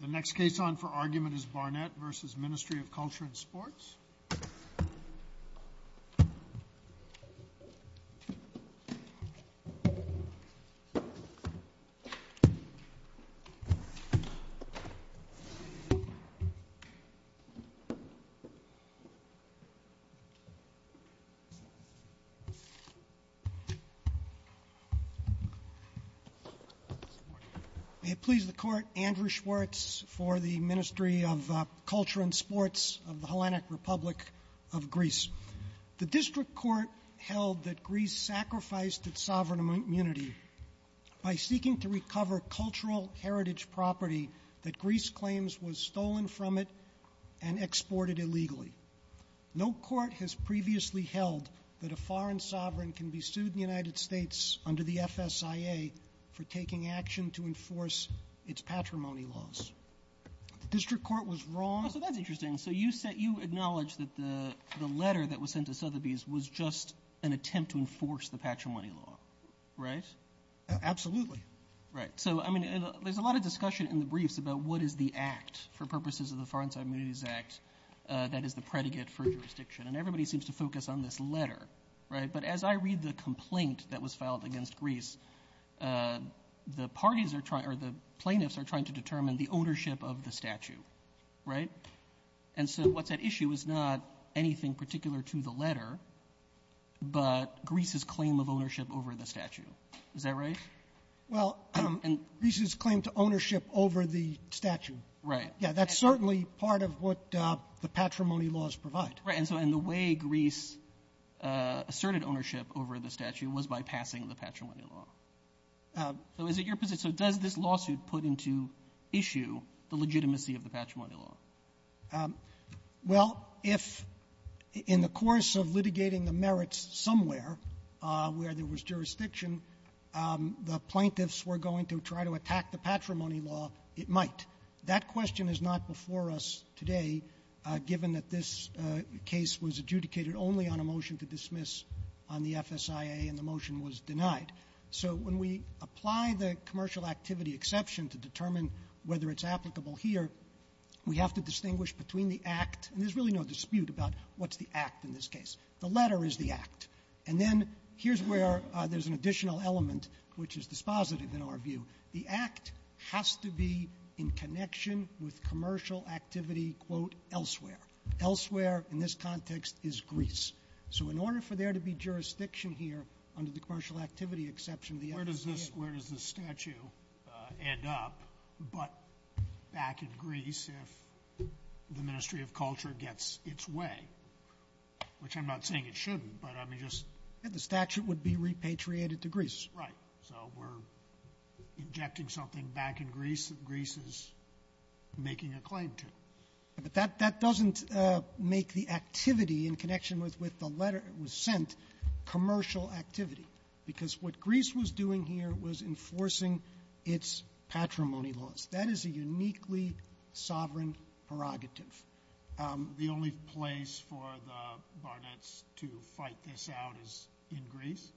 The next case on for argument is Barnett v. Ministry of Culture and Sports. May it please the Court, Andrew Schwartz for the Ministry of Culture and Sports of the Hellenic Republic of Greece. The District Court held that Greece sacrificed its sovereign immunity by seeking to recover cultural heritage property that Greece claims was stolen from it and exported illegally. No court has previously held that a foreign sovereign can be sued in the United States under the FSIA for taking action to enforce its patrimony laws. The District Court was wrong. Oh, so that's interesting. So you acknowledge that the letter that was sent to Sotheby's was just an attempt to enforce the patrimony law, right? Absolutely. Right. So, I mean, there's a lot of discussion in the briefs about what is the act for purposes of the Foreign Sovereign Immunities Act that is the predicate for jurisdiction, and everybody seems to focus on this letter, right? But as I read the complaint that was filed against Greece, the parties are trying, or the plaintiffs are trying to determine the ownership of the statue, right? And so what's at issue is not anything particular to the letter, but Greece's claim of ownership over the statue. Is that right? Well, Greece's claim to ownership over the statue. Right. Yeah. That's certainly part of what the patrimony laws provide. Right. And so in the way Greece asserted ownership over the statue was by passing the patrimony law. So is it your position, so does this lawsuit put into issue the legitimacy of the patrimony law? Well, if in the course of litigating the merits somewhere where there was jurisdiction, the plaintiffs were going to try to attack the patrimony law, it might. That question is not before us today, given that this case was adjudicated only on a motion to dismiss on the FSIA, and the motion was denied. So when we apply the commercial activity exception to determine whether it's applicable here, we have to distinguish between the act, and there's really no dispute about what's the act in this case. The letter is the act. And then here's where there's an additional element, which is dispositive in our view. The act has to be in connection with commercial activity, quote, elsewhere. Elsewhere in this context is Greece. So in order for there to be jurisdiction here under the commercial activity exception, the FSIA Where does this statue end up but back in Greece if the Ministry of Culture gets its way? Which I'm not saying it shouldn't, but I mean just The statute would be repatriated to Greece. Right. So we're injecting something back in Greece that Greece is making a claim to. But that doesn't make the activity in connection with the letter that was sent commercial activity. Because what Greece was doing here was enforcing its patrimony laws. That is a uniquely sovereign prerogative. The only place for the Barnetts to fight this out is in Greece?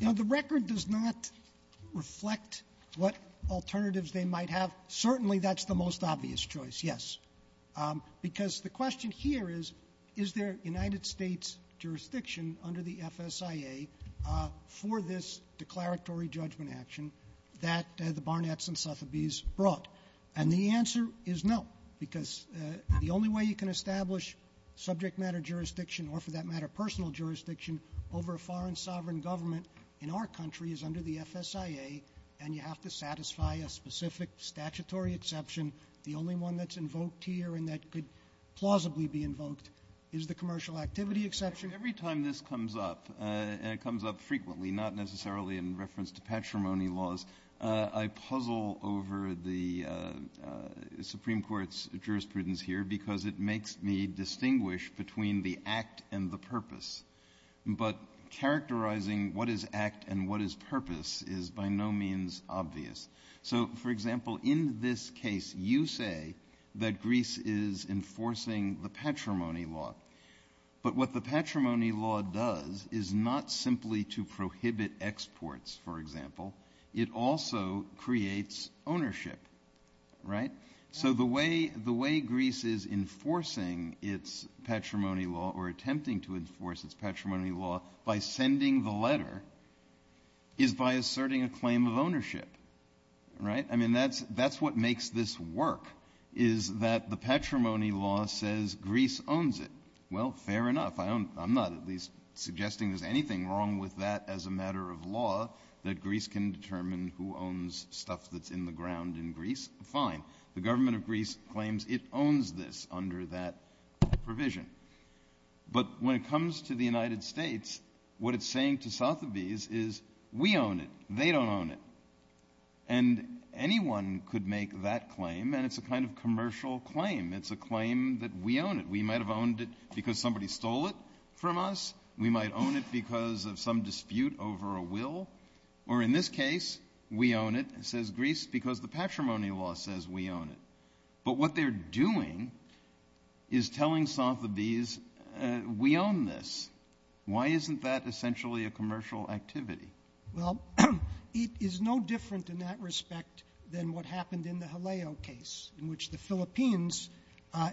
The record does not reflect what alternatives they might have. Certainly that's the most obvious choice, yes. Because the question here is, is there United States jurisdiction under the FSIA for this declaratory judgment action that the Barnetts and Sotheby's brought? And the answer is no. Because the only way you can establish subject matter jurisdiction or for that matter personal jurisdiction over a foreign sovereign government in our country is under the FSIA. And you have to satisfy a specific statutory exception. The only one that's invoked here and that could plausibly be invoked is the commercial activity exception. Every time this comes up, and it comes up frequently, not necessarily in reference to patrimony laws, I puzzle over the Supreme Court's jurisprudence here because it makes me distinguish between the act and the purpose. But characterizing what is act and what is purpose is by no means obvious. So, for example, in this case you say that Greece is enforcing the patrimony law. But what the patrimony law does is not simply to prohibit exports, for example. It also creates ownership. Right? So the way Greece is enforcing its patrimony law or attempting to enforce its patrimony law by sending the letter is by asserting a claim of ownership. Right? I mean, that's what makes this work is that the patrimony law says Greece owns it. Well, fair enough. I'm not at least suggesting there's anything wrong with that as a matter of law that Greece can determine who owns stuff that's in the ground in Greece. Fine. The government of Greece claims it owns this under that provision. But when it comes to the United States, what it's saying to Sotheby's is we own it. They don't own it. And anyone could make that claim, and it's a kind of commercial claim. It's a claim that we own it. We might have owned it because somebody stole it from us. We might own it because of some dispute over a will. Or in this case, we own it, says Greece, because the patrimony law says we own it. But what they're doing is telling Sotheby's we own this. Why isn't that essentially a commercial activity? Well, it is no different in that respect than what happened in the Haleo case, in which the Philippines,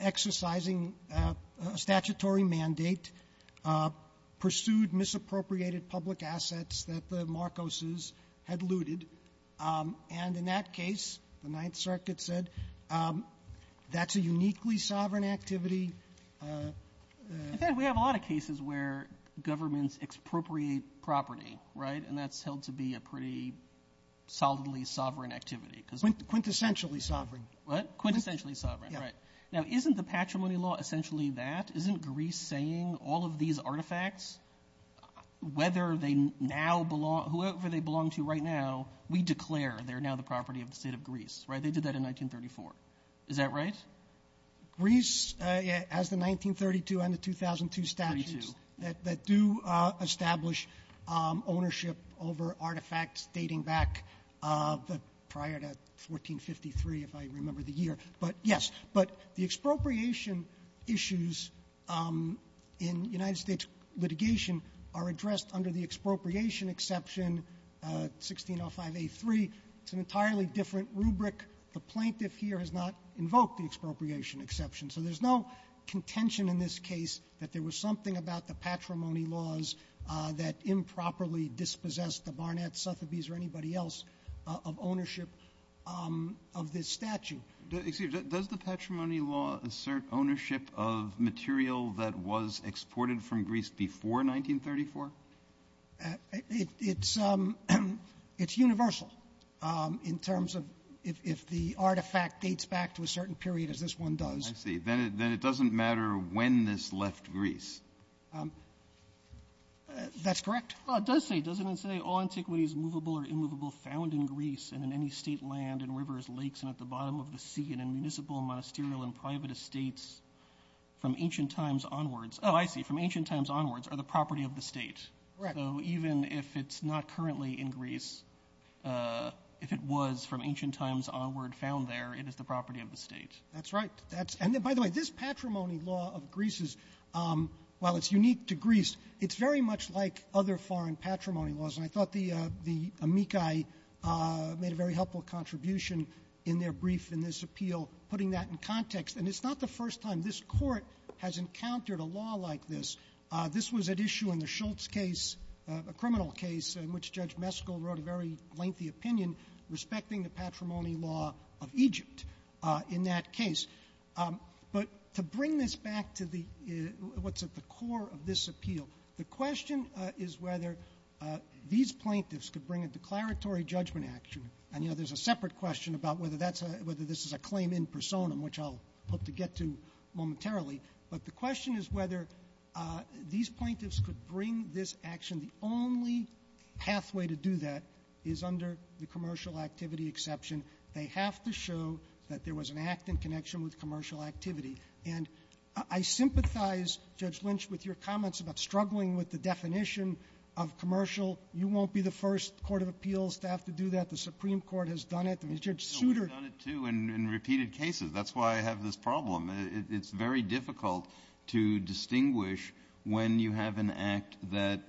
exercising a statutory mandate, pursued misappropriated public assets that the Marcoses had looted. And in that case, the Ninth Circuit said that's a uniquely sovereign activity. In fact, we have a lot of cases where governments expropriate property, right? And that's held to be a pretty solidly sovereign activity. Quintessentially sovereign. What? Quintessentially sovereign, right. Now, isn't the patrimony law essentially that? Isn't Greece saying all of these artifacts, whether they now belong to whoever they belong to right now, we declare they're now the property of the state of Greece, right? They did that in 1934. Is that right? Greece has the 1932 and the 2002 statutes that do establish ownership over artifacts dating back prior to 1453, if I remember the year. But, yes. But the expropriation issues in United States litigation are addressed under the expropriation exception 1605a3. It's an entirely different rubric. The plaintiff here has not invoked the expropriation exception. So there's no contention in this case that there was something about the patrimony laws that improperly dispossessed the Barnett, Sotheby's or anybody else of ownership of this statute. Excuse me. Does the patrimony law assert ownership of material that was exported from Greece before 1934? It's universal in terms of if the artifact dates back to a certain period as this one does. I see. Then it doesn't matter when this left Greece. That's correct? It does say, doesn't it, say all antiquities movable or immovable found in Greece and in any state land and rivers, lakes and at the bottom of the sea and in municipal, monasterial and private estates from ancient times onwards. Oh, I see. From ancient times onwards are the property of the state. Correct. So even if it's not currently in Greece, if it was from ancient times onward found there, it is the property of the state. That's right. And, by the way, this patrimony law of Greece's, while it's unique to Greece, it's very much like other foreign patrimony laws. And I thought the amici made a very helpful contribution in their brief in this appeal putting that in context. And it's not the first time this Court has encountered a law like this. This was at issue in the Schultz case, a criminal case, in which Judge Meskel wrote a very lengthy opinion respecting the patrimony law of Egypt in that case. But to bring this back to what's at the core of this appeal, the question is whether these plaintiffs could bring a declaratory judgment action. And, you know, there's a separate question about whether this is a claim in personam, which I'll hope to get to momentarily. But the question is whether these plaintiffs could bring this action. And the only pathway to do that is under the commercial activity exception. They have to show that there was an act in connection with commercial activity. And I sympathize, Judge Lynch, with your comments about struggling with the definition of commercial. You won't be the first court of appeals to have to do that. The Supreme Court has done it. I mean, Judge Souter — No, we've done it, too, in repeated cases. That's why I have this problem. It's very difficult to distinguish when you have an act that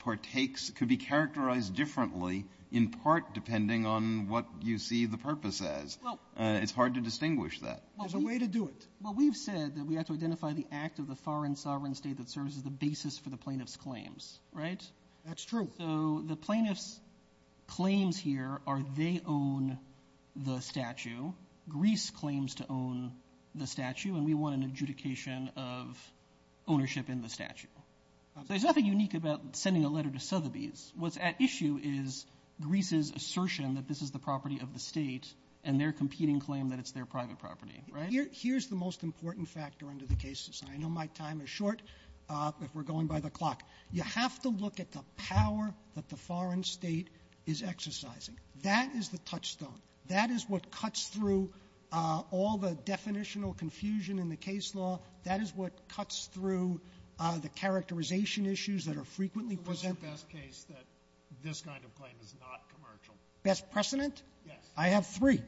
partakes — could be characterized differently in part depending on what you see the purpose as. It's hard to distinguish that. There's a way to do it. Well, we've said that we have to identify the act of the foreign sovereign state that serves as the basis for the plaintiff's claims, right? That's true. So the plaintiff's claims here are they own the statue. Greece claims to own the statue, and we want an adjudication of ownership in the statue. Absolutely. So there's nothing unique about sending a letter to Sotheby's. What's at issue is Greece's assertion that this is the property of the state and their competing claim that it's their private property, right? Here's the most important factor under the cases, and I know my time is short if we're going by the clock. You have to look at the power that the foreign state is exercising. That is the touchstone. That is what cuts through all the definitional confusion in the case law. That is what cuts through the characterization issues that are frequently presented. So what's your best case that this kind of claim is not commercial? Best precedent? Yes. I have three.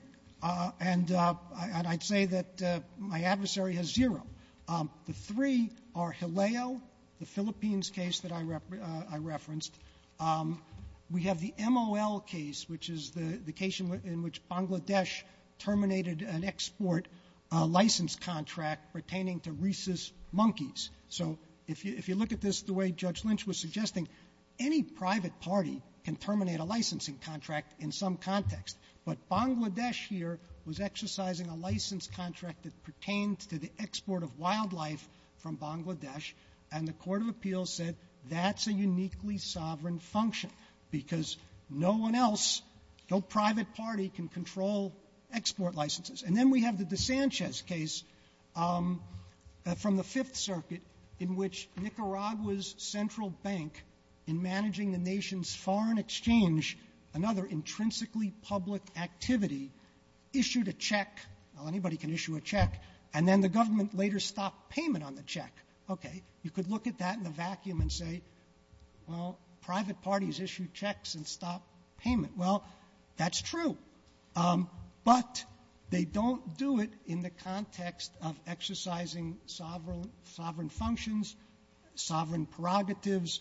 And I'd say that my adversary has zero. The three are Hileo, the Philippines case that I referenced. We have the MOL case, which is the case in which Bangladesh terminated an export license contract pertaining to rhesus monkeys. So if you look at this the way Judge Lynch was suggesting, any private party can terminate a licensing contract in some context. But Bangladesh here was exercising a license contract that pertained to the export of wildlife from Bangladesh, and the court of appeals said that's a uniquely sovereign function because no one else, no private party can control export licenses. And then we have the DeSanchez case from the Fifth Circuit in which Nicaragua's central bank, in managing the nation's foreign exchange, another intrinsically public activity, issued a check. Well, anybody can issue a check. And then the government later stopped payment on the check. Okay. You could look at that in a vacuum and say, well, private parties issue checks and stop payment. Well, that's true. But they don't do it in the context of exercising sovereign functions, sovereign prerogatives,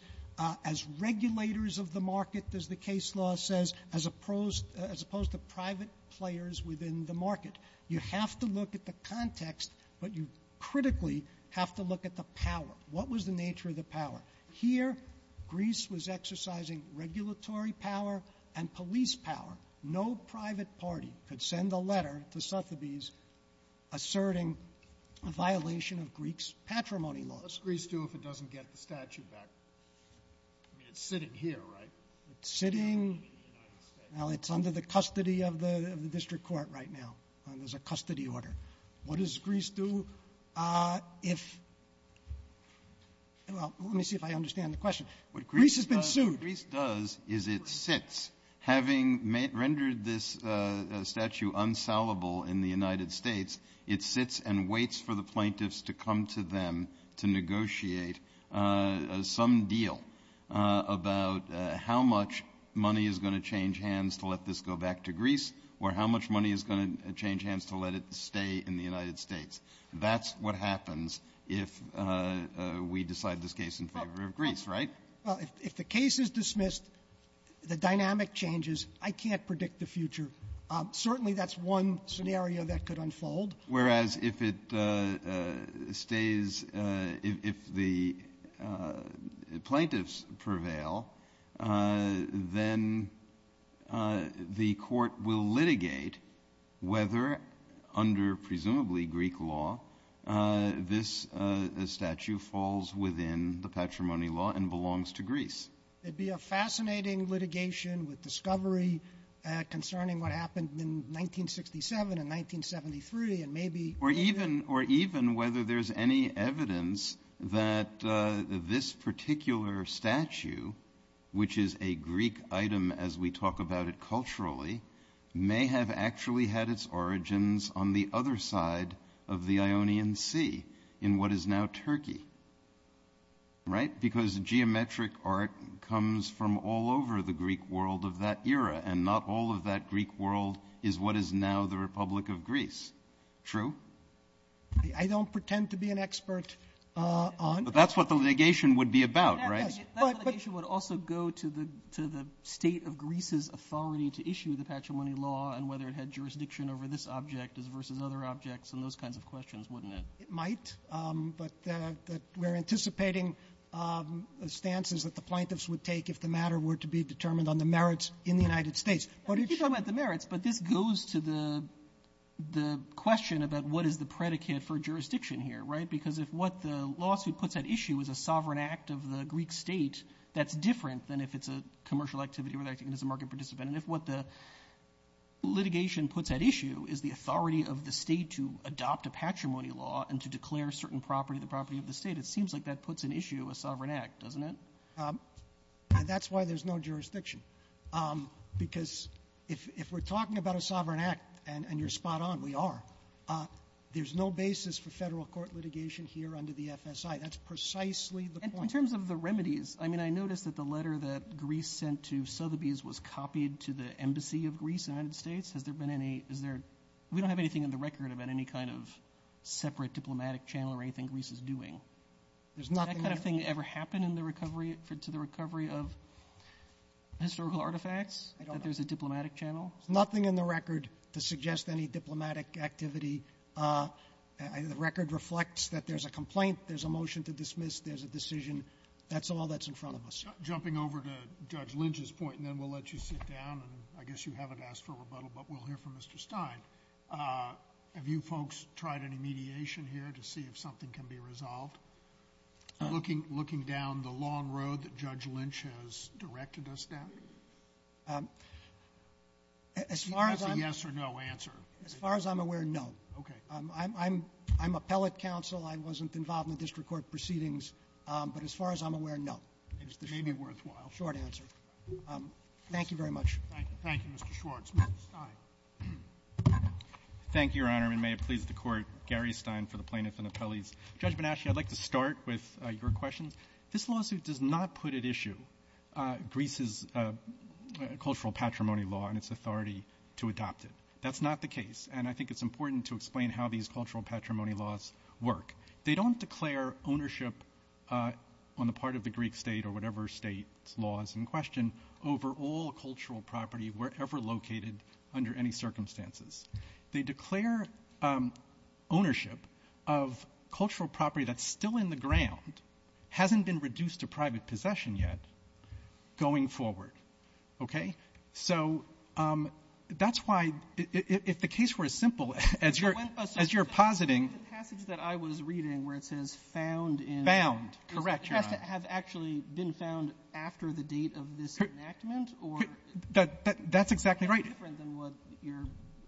as regulators of the market, as the case law says, as opposed to private players within the market. You have to look at the context, but you critically have to look at the power. What was the nature of the power? Here, Greece was exercising regulatory power and police power. No private party could send a letter to Sotheby's asserting a violation of Greek's patrimony laws. What does Greece do if it doesn't get the statute back? I mean, it's sitting here, right? It's sitting in the United States. Now, it's under the custody of the district court right now. There's a custody order. What does Greece do if – well, let me see if I understand the question. Greece has been sued. What Greece does is it sits. Having rendered this statute unsalvable in the United States, it sits and waits for the plaintiffs to come to them to negotiate some deal about how much money is going to change hands to let this go back to Greece or how much money is going to change hands to let it stay in the United States. That's what happens if we decide this case in favor of Greece, right? Well, if the case is dismissed, the dynamic changes, I can't predict the future. Certainly, that's one scenario that could unfold. Whereas, if it stays – if the plaintiffs prevail, then the court will litigate whether, under presumably Greek law, this statute falls within the patrimony law and belongs to Greece. It'd be a fascinating litigation with discovery concerning what happened in 1967 and 1973 and maybe – Or even whether there's any evidence that this particular statute, which is a Greek item as we talk about it culturally, may have actually had its origins on the other side of the Ionian Sea in what is now Turkey, right? Because geometric art comes from all over the Greek world of that era and not all of that Greek world is what is now the Republic of Greece. True? I don't pretend to be an expert on – But that's what the litigation would be about, right? That litigation would also go to the state of Greece's authority to issue the patrimony law and whether it had jurisdiction over this object versus other objects and those kinds of questions, wouldn't it? It might, but we're anticipating stances that the plaintiffs would take if the matter were to be determined on the merits in the United States. You talk about the merits, but this goes to the question about what is the predicate for jurisdiction here, right? Because if what the lawsuit puts at issue is a sovereign act of the Greek state, that's different than if it's a commercial activity or if it's a market participant. And if what the litigation puts at issue is the authority of the state to adopt a patrimony law and to declare a certain property the property of the state, it seems like that puts at issue a sovereign act, doesn't it? That's why there's no jurisdiction. Because if we're talking about a sovereign act, and you're spot on, we are, there's no basis for federal court litigation here under the FSI. That's precisely the point. In terms of the remedies, I mean, I noticed that the letter that Greece sent to Sotheby's was copied to the embassy of Greece in the United States. Has there been any – is there – we don't have anything on the record about any kind of separate diplomatic channel or anything Greece is doing. Has that kind of thing ever happened in the recovery, to the recovery of historical artifacts, that there's a diplomatic channel? There's nothing in the record to suggest any diplomatic activity. The record reflects that there's a complaint, there's a motion to dismiss, there's a decision. That's all that's in front of us. Jumping over to Judge Lynch's point, and then we'll let you sit down, and I guess you haven't asked for rebuttal, but we'll hear from Mr. Stein. Have you folks tried any mediation here to see if something can be resolved, looking down the long road that Judge Lynch has directed us down? As far as I'm – Is that a yes or no answer? As far as I'm aware, no. Okay. I'm appellate counsel. I wasn't involved in the district court proceedings. But as far as I'm aware, no. It may be worthwhile. Short answer. Thank you. Thank you, Mr. Schwartz. Mr. Stein. Thank you, Your Honor. Mr. Chairman, may it please the Court, Gary Stein for the plaintiff and appellees. Judge Benashia, I'd like to start with your questions. This lawsuit does not put at issue Greece's cultural patrimony law and its authority to adopt it. That's not the case, and I think it's important to explain how these cultural patrimony laws work. They don't declare ownership on the part of the Greek state or whatever state's laws in question over all cultural property wherever located under any circumstances. They declare ownership of cultural property that's still in the ground, hasn't been reduced to private possession yet, going forward. Okay? So that's why, if the case were as simple as you're positing... The passage that I was reading where it says found in... Found. Correct, Your Honor. Has it actually been found after the date of this enactment? That's exactly right. That's different than what your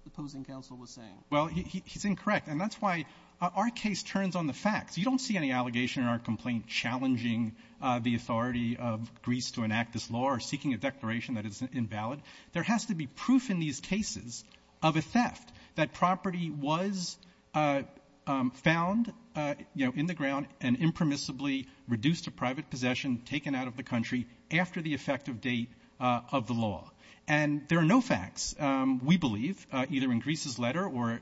opposing counsel was saying. Well, he's incorrect, and that's why our case turns on the facts. You don't see any allegation in our complaint challenging the authority of Greece to enact this law or seeking a declaration that it's invalid. There has to be proof in these cases of a theft, that property was found, you know, in the ground and impermissibly reduced to private possession, taken out of the country, after the effective date of the law. And there are no facts, we believe, either in Greece's letter or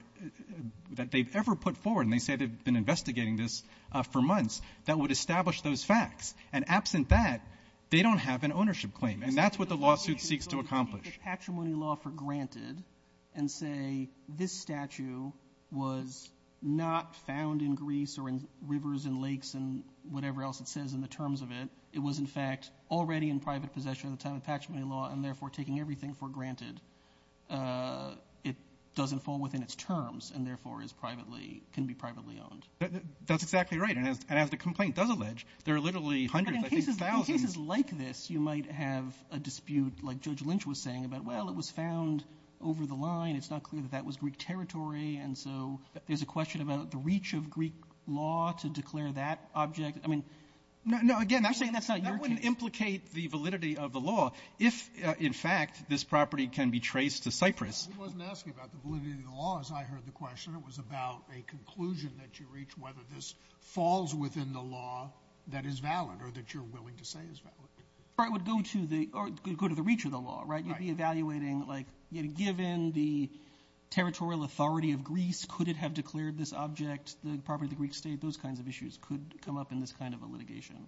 that they've ever put forward, and they say they've been investigating this for months, that would establish those facts. And absent that, they don't have an ownership claim. And that's what the lawsuit seeks to accomplish. ...patrimony law for granted and say this statue was not found in Greece or in rivers and lakes and whatever else it says in the terms of it. It was, in fact, already in private possession at the time of the patrimony law and, therefore, taking everything for granted. It doesn't fall within its terms and, therefore, can be privately owned. That's exactly right. And as the complaint does allege, there are literally hundreds, I think thousands... But in cases like this, you might have a dispute like Judge Lynch was saying about, well, it was found over the line. It's not clear that that was Greek territory. And so there's a question about the reach of Greek law to declare that object. I mean... No, again, that wouldn't implicate the validity of the law. If, in fact, this property can be traced to Cyprus... He wasn't asking about the validity of the law as I heard the question. It was about a conclusion that you reach whether this falls within the law that is valid or that you're willing to say is valid. Or it would go to the... Or it could go to the reach of the law, right? Right. You'd be evaluating, like, given the territorial authority of Greece, could it have declared this object, the property of the Greek state? Those kinds of issues could come up in this kind of a litigation.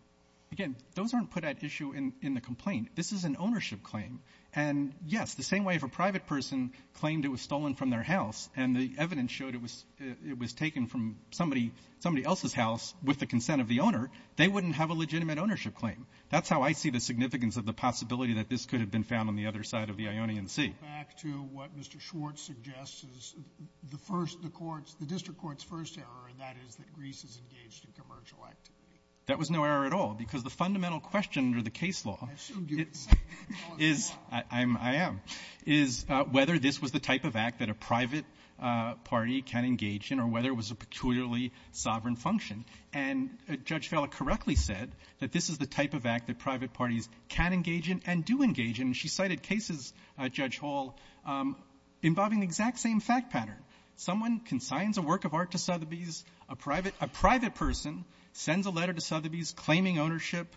Again, those aren't put at issue in the complaint. This is an ownership claim. And, yes, the same way if a private person claimed it was stolen from their house and the evidence showed it was taken from somebody... somebody else's house with the consent of the owner, they wouldn't have a legitimate ownership claim. That's how I see the significance of the possibility that this could have been found on the other side of the Ionian Sea. Back to what Mr. Schwartz suggests is the first... The court's... The district court's first error in that is that Greece is engaged in commercial activity. That was no error at all because the fundamental question under the case law is... I'm... I am... is whether this was the type of act that a private party can engage in or whether it was a peculiarly sovereign function. And Judge Fella correctly said that this is the type of act that private parties can engage in and do engage in. She cited cases, Judge Hall, involving the exact same fact pattern. Someone consigns a work of art to Sotheby's, a private person sends a letter to Sotheby's claiming ownership,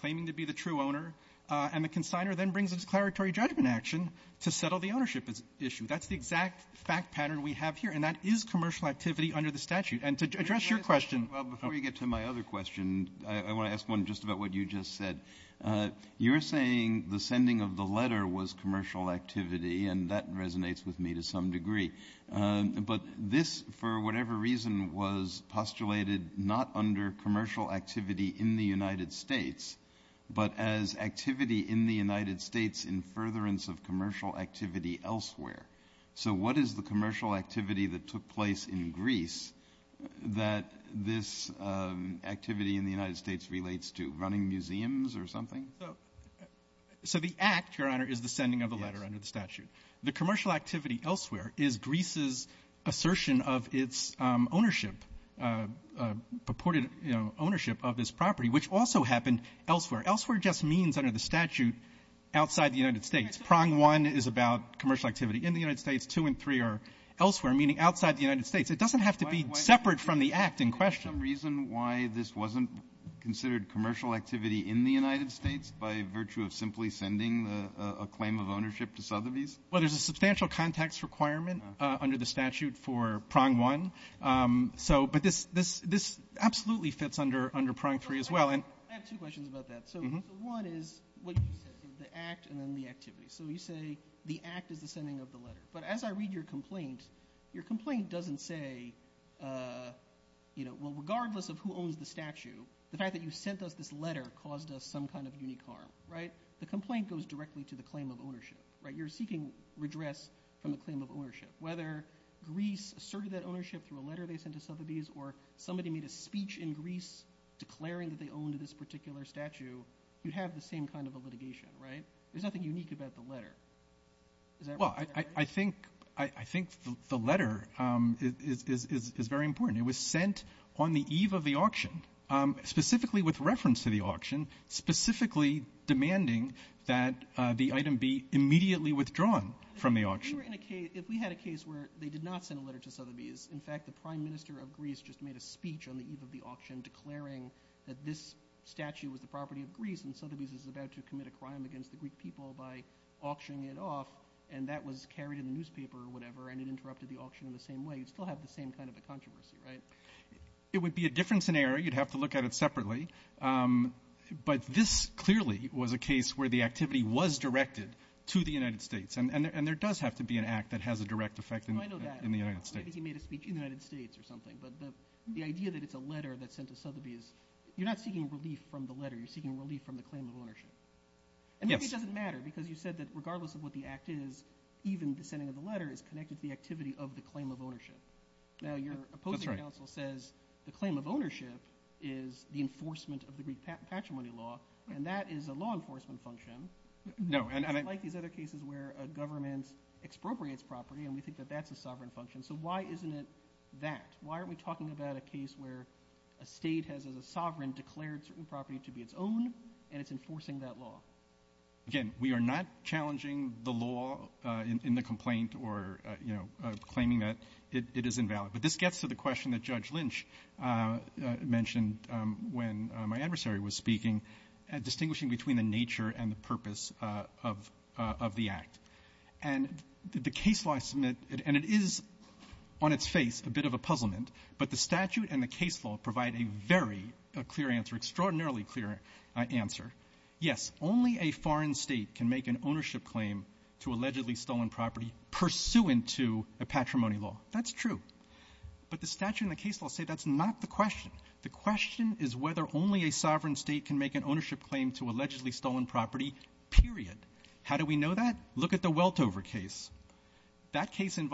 claiming to be the true owner, and the consigner then brings a declaratory judgment action to settle the ownership issue. That's the exact fact pattern we have here and that is commercial activity under the statute. And to address your question... Well, before you get to my other question, I want to ask one just about what you just said. You're saying the sending of the letter was commercial activity and that resonates with me to some degree. But this, for whatever reason, was postulated not under commercial activity in the United States, but as activity in the United States in furtherance of commercial activity elsewhere. So what is the commercial activity that took place in Greece that this activity in the United States relates to? Running museums or something? So the act, Your Honor, is the sending of the letter under the statute. The commercial activity elsewhere is Greece's assertion of its ownership, purported ownership of this property, which also happened elsewhere. Elsewhere just means under the statute outside the United States. Prong 1 is about commercial activity in the United States. 2 and 3 are elsewhere, meaning outside the United States. It doesn't have to be separate from the act in question. Is there some reason why this wasn't considered commercial activity in the United States by virtue of simply sending a claim of ownership to Sotheby's? Well, there's a substantial context requirement under the statute for Prong 1. But this absolutely fits under Prong 3 as well. I have two questions about that. So one is what you said, the act and then the activity. So you say the act is the sending of the letter. But as I read your complaint, your complaint doesn't say, well, regardless of who owns the statue, the fact that you sent us this letter caused us some kind of unique harm. The complaint goes directly to the claim of ownership. You're seeking redress from the claim of ownership. Whether Greece asserted that ownership through a letter they sent to Sotheby's or somebody made a speech in Greece declaring that they owned this particular statue, you'd have the same kind of a litigation, right? There's nothing unique about the letter. Is that right? Well, I think the letter is very important. It was sent on the eve of the auction, specifically with reference to the auction, specifically demanding that the item be immediately withdrawn from the auction. If we had a case where they did not send a letter to Sotheby's, in fact, the Prime Minister of Greece just made a speech on the eve of the auction declaring that this statue was the property of Greece and Sotheby's is about to commit a crime against the Greek people by auctioning it off and that was carried in the newspaper or whatever and it interrupted the auction in the same way, you'd still have the same kind of a controversy, right? It would be a different scenario, you'd have to look at it separately, but this clearly was a case where the activity was directed to the United States and there does have to be an act that has a direct effect in the United States. Maybe he made a speech in the United States or something but the idea that it's a letter that's sent to Sotheby's, you're not seeking relief from the letter, you're seeking relief from the claim of ownership and maybe it doesn't matter because you said that regardless of what the act is, even the sending of the letter is connected to the activity of the claim of ownership. Now your opposing counsel says the claim of ownership is the enforcement of the Greek patrimony law and that is a law enforcement function like these other cases where a government expropriates property and we think that that's a sovereign function so why isn't it that? Why aren't we talking about a case where a state has as a sovereign declared certain property to be its own and it's enforcing that law? Again, we are not challenging the law in the complaint or claiming that it is invalid but this gets to the question that Judge Lynch mentioned when my adversary was speaking distinguishing between the nature and the purpose of the act and the case law and it is on its face a bit of a puzzlement but the statute and the case law provide a very clear answer extraordinarily clear answer yes only a foreign state can make an ownership claim to allegedly stolen property pursuant to a patrimony law that's true but the statute and the case law say that's not the question the question is whether only a sovereign state can make an ownership claim to allegedly stolen property period how do we know that look at the Supreme Court and the Supreme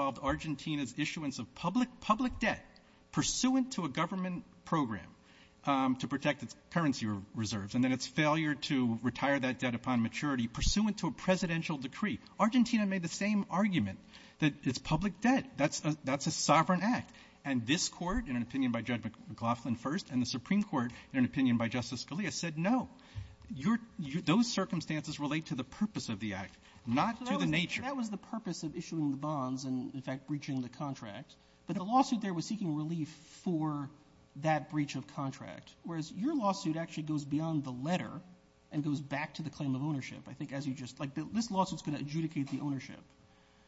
Court in an opinion by Justice Scalia said no those circumstances relate to the purpose of the act not to the nature of issuing bonds and breaching the contract but the lawsuit there was seeking relief for that breach of contract whereas your lawsuit actually goes beyond the letter and goes back to the claim of ownership I think as you just like this lawsuit's going to adjudicate the ownership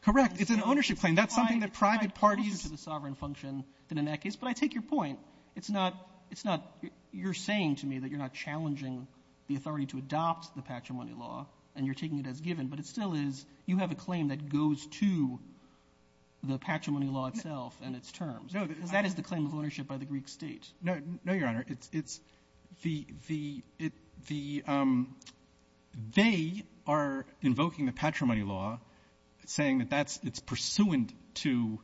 correct it's an ownership claim that's something that private parties to the sovereign function in that case but I take your point it's not it's not you're saying to me that you're not challenging the authority to adopt the patrimony law and you're taking it as given but it still is you have a claim that goes to the patrimony law itself and its terms because that is the claim of ownership by the Greek state no your honor it's the they are invoking the patrimony law saying that that's it's pursuant to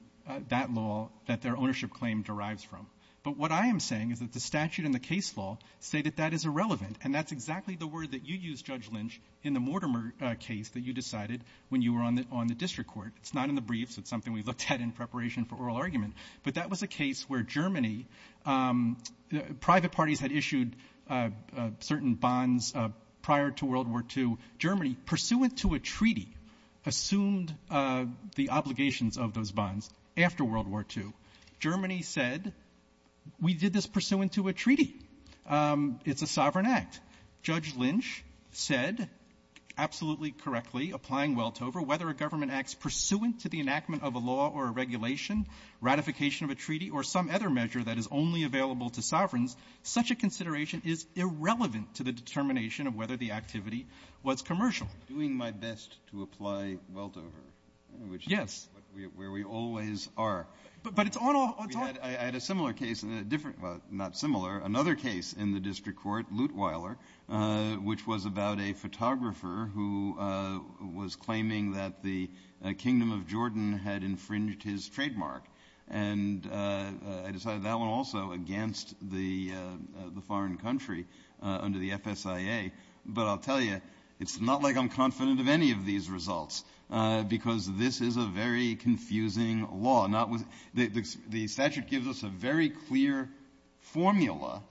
that law that their ownership claim derives from but what I am saying is that the statute in the case law say that that is irrelevant and that's exactly the word that you use judge lynch in the Mortimer case that you decided when you were on the district court it's not in the briefs it's something we looked at in preparation for oral argument but that was a case where Germany private parties had issued certain bonds prior to world war two Germany pursuant to a treaty assumed the obligations of those bonds after world war two Germany said we did this pursuant to a treaty it's a sovereign act judge lynch said absolutely correctly applying weltover whether a government acts pursuant to the enactment of a law or a regulation ratification of a law to apply weltover yes where we always are but it's on I had a similar case not similar another case in the district court luteweiler which was about a photographer who was claiming that the kingdom of Jordan had infringed his trademark and I decided that one also against the foreign country under the fsia but I'll tell you it's not like I'm confident of any of these results because this is a very confusing law not with the statute gives us a very clear formula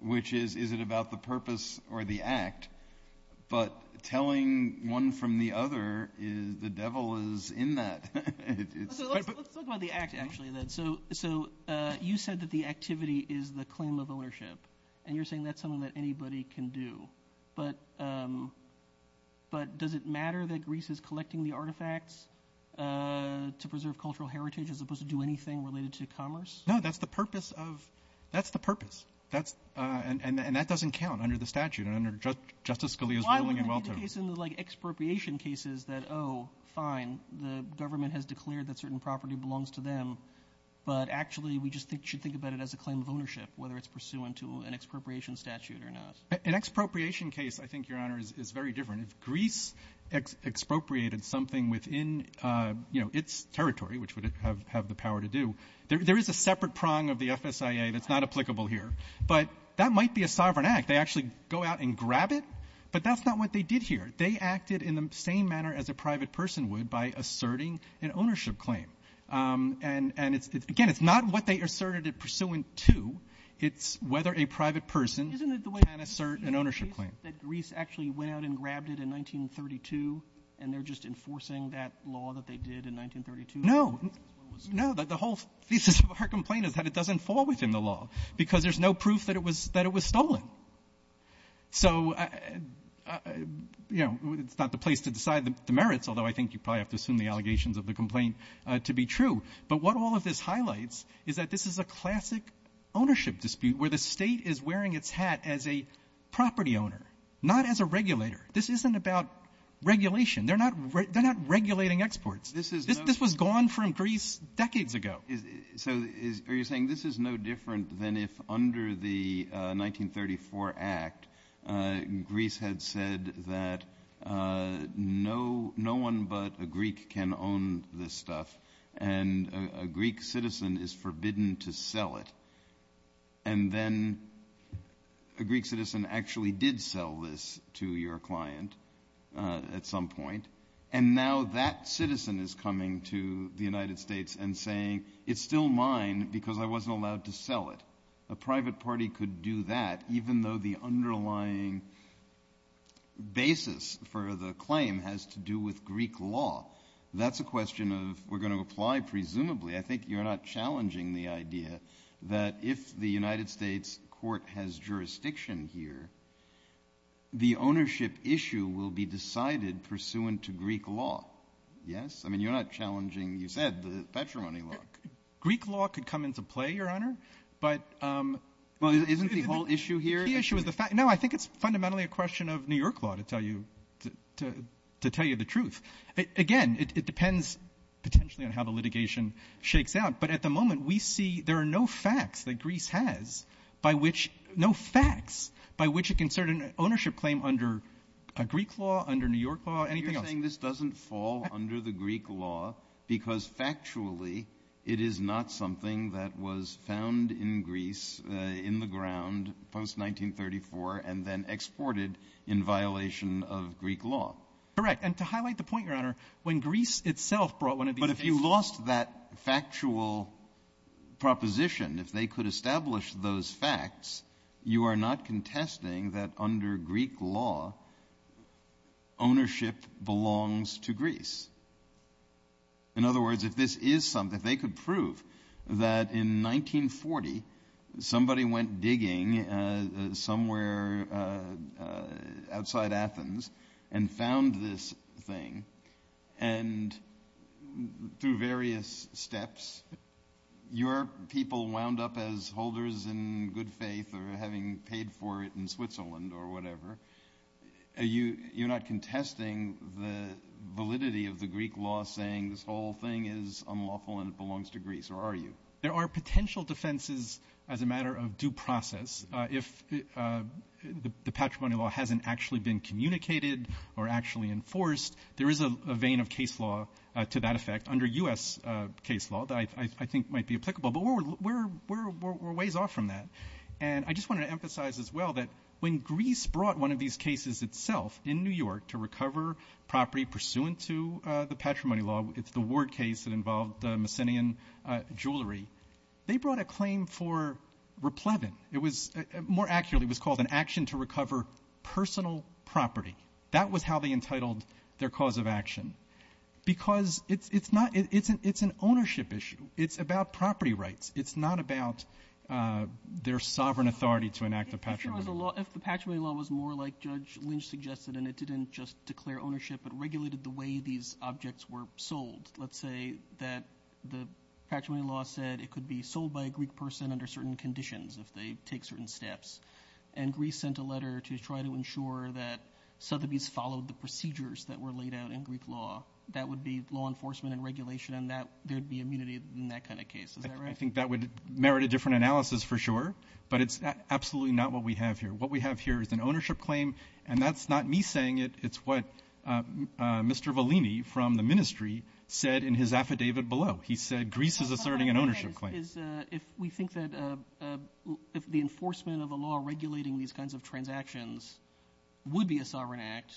which is is it about the purpose or the act but telling one from the other is the devil is in that let's talk about the act actually so so you said that the activity is the claim of ownership and you're saying that's something that anybody can do but but does it matter that Greece is collecting the artifacts to preserve cultural heritage as opposed to do anything related to commerce no that's the purpose of that's the purpose that's and that doesn't count under the statute under justice Scalia's ruling like expropriation cases that oh fine the government has declared that certain property belongs to them but actually we just think should think about it as a claim of ownership whether it's pursuant to an expropriation statute or not an expropriation case I think your honor is very different Greece expropriated something within you know its territory which would have the power to do there is a separate prong of the fsia that's not applicable here but that might be a sovereign act they actually go out and grab it but that's not what they did here they acted in the same manner as a private person would by asserting an ownership claim and it's again it's not what they asserted it pursuant to it's whether a private person can assert an ownership claim that Greece actually went out and grabbed it in 1932 and they're just enforcing that law that they did in 1932 no no the whole thesis of our complaint is that it doesn't fall within the law because there's no proof that it was that it was stolen so you know it's not the place to decide the merits although I think you probably have to assume the allegations of the complaint to be true but what all of this highlights is that this is a classic ownership dispute where the state is wearing its hat as a property owner not as a regulator this isn't about regulation they're not they're not regulating exports this is this was gone from Greece decades ago so are you saying this is no different than if under the 1934 act Greece had said that no no one but a Greek can own this stuff and a Greek citizen is forbidden to sell it and then a Greek citizen actually did sell this to your client at some point and now that citizen is coming to the United States and saying it's still mine because I wasn't allowed to sell it a private party could do that even though the underlying basis for the claim has to do with Greek law that's a question of we're going to apply presumably I think you're not challenging the idea that if the United States court has jurisdiction here the ownership issue will be decided pursuant to Greek law yes I mean you're not challenging you said the patrimony law Greek law could come into play your honor but well isn't the whole issue here no I think it's fundamentally a question of New York law to tell you to tell you the truth again it depends potentially on how the litigation shakes out but at the moment we see there are no facts that Greece has by which no facts by which a concern ownership claim under a Greek law under New York law you're saying this doesn't fall under the Greek law because factually it is not something that was found in Greece in the ground post 1934 and then exported in violation of Greek law correct and to highlight the point your honor when Greece itself brought one of the but if you lost that factual proposition if they could establish those facts you are not contesting that under Greek law ownership belongs to Greece in other words if this is something they could prove that in 1940 somebody went digging somewhere outside Athens and found this thing and through various steps your people wound up as holders in good faith or having paid for it in Switzerland or whatever you're not contesting the validity of the Greek law saying this whole thing is unlawful and belongs to Greece or are you there are potential defenses as a matter of due process if the patrimony law hasn't actually been communicated or actually enforced there is a vein of case law to that effect under US case law that I think might be applicable but we're ways off from that and I just want to emphasize as well that when Greece brought one of these cases itself in New York to recover property pursuant to the patrimony law it's the ward case that involved the Mycenaean jewelry they brought a claim for more accurately it was called an action to recover personal property that was how they entitled their cause of action because it's an ownership issue it's about property rights it's not about their sovereign authority to enact the patrimony law if the patrimony law was more like Judge Lynch suggested and it didn't just declare ownership but regulated the way these objects were sold let's say that the patrimony law said it could be sold by a Greek person under certain conditions if they take certain steps and Greece sent a letter to try to ensure that Sotheby's followed the procedures that were laid out in Greek law that would be law enforcement and regulation and there would be immunity in that kind of case is that right? I think that would merit a different analysis for sure but it's absolutely not what we have here what we have here is an ownership claim and that's not me saying it it's what Mr. Valini from the ministry said in his affidavit below he said Greece is asserting an ownership claim. If the enforcement of the law regulating these kinds of transactions would be a sovereign act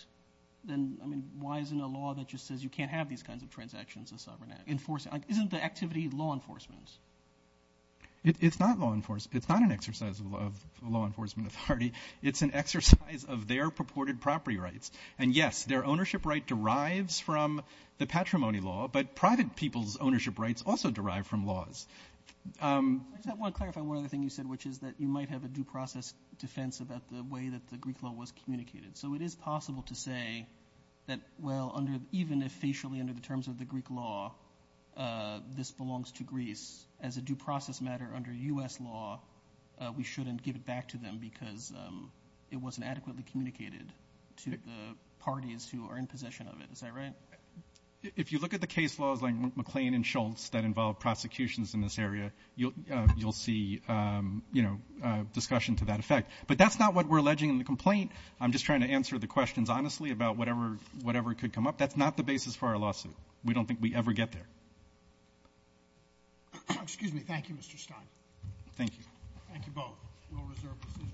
then why isn't a law that just says you can't have these kinds of transactions a sovereign act? Isn't the activity law enforcement? It's not law enforcement it's not an exercise of law enforcement authority it's an exercise of their purported property rights and yes their ownership right derives from the patrimony law but private people's ownership rights also derive from laws. I just want to clarify one other thing you said which is that you might have a due process defense about the way that the Greek law was communicated so it is possible to say that well even if facially under the terms of the Greek law this belongs to the U.S. law we shouldn't give it back to them because it wasn't adequately communicated to the parties who are in possession of it is that right? If you look at the case laws like McLean and Schultz that involve prosecutions in this area you'll see you know discussion to that effect but that's not what we're alleging in the complaint I'm just trying to answer the questions honestly about whatever could come up that's not the basis for our lawsuit we don't think we ever get there. Excuse me thank you Mr. Stein. Thank you. Thank you both.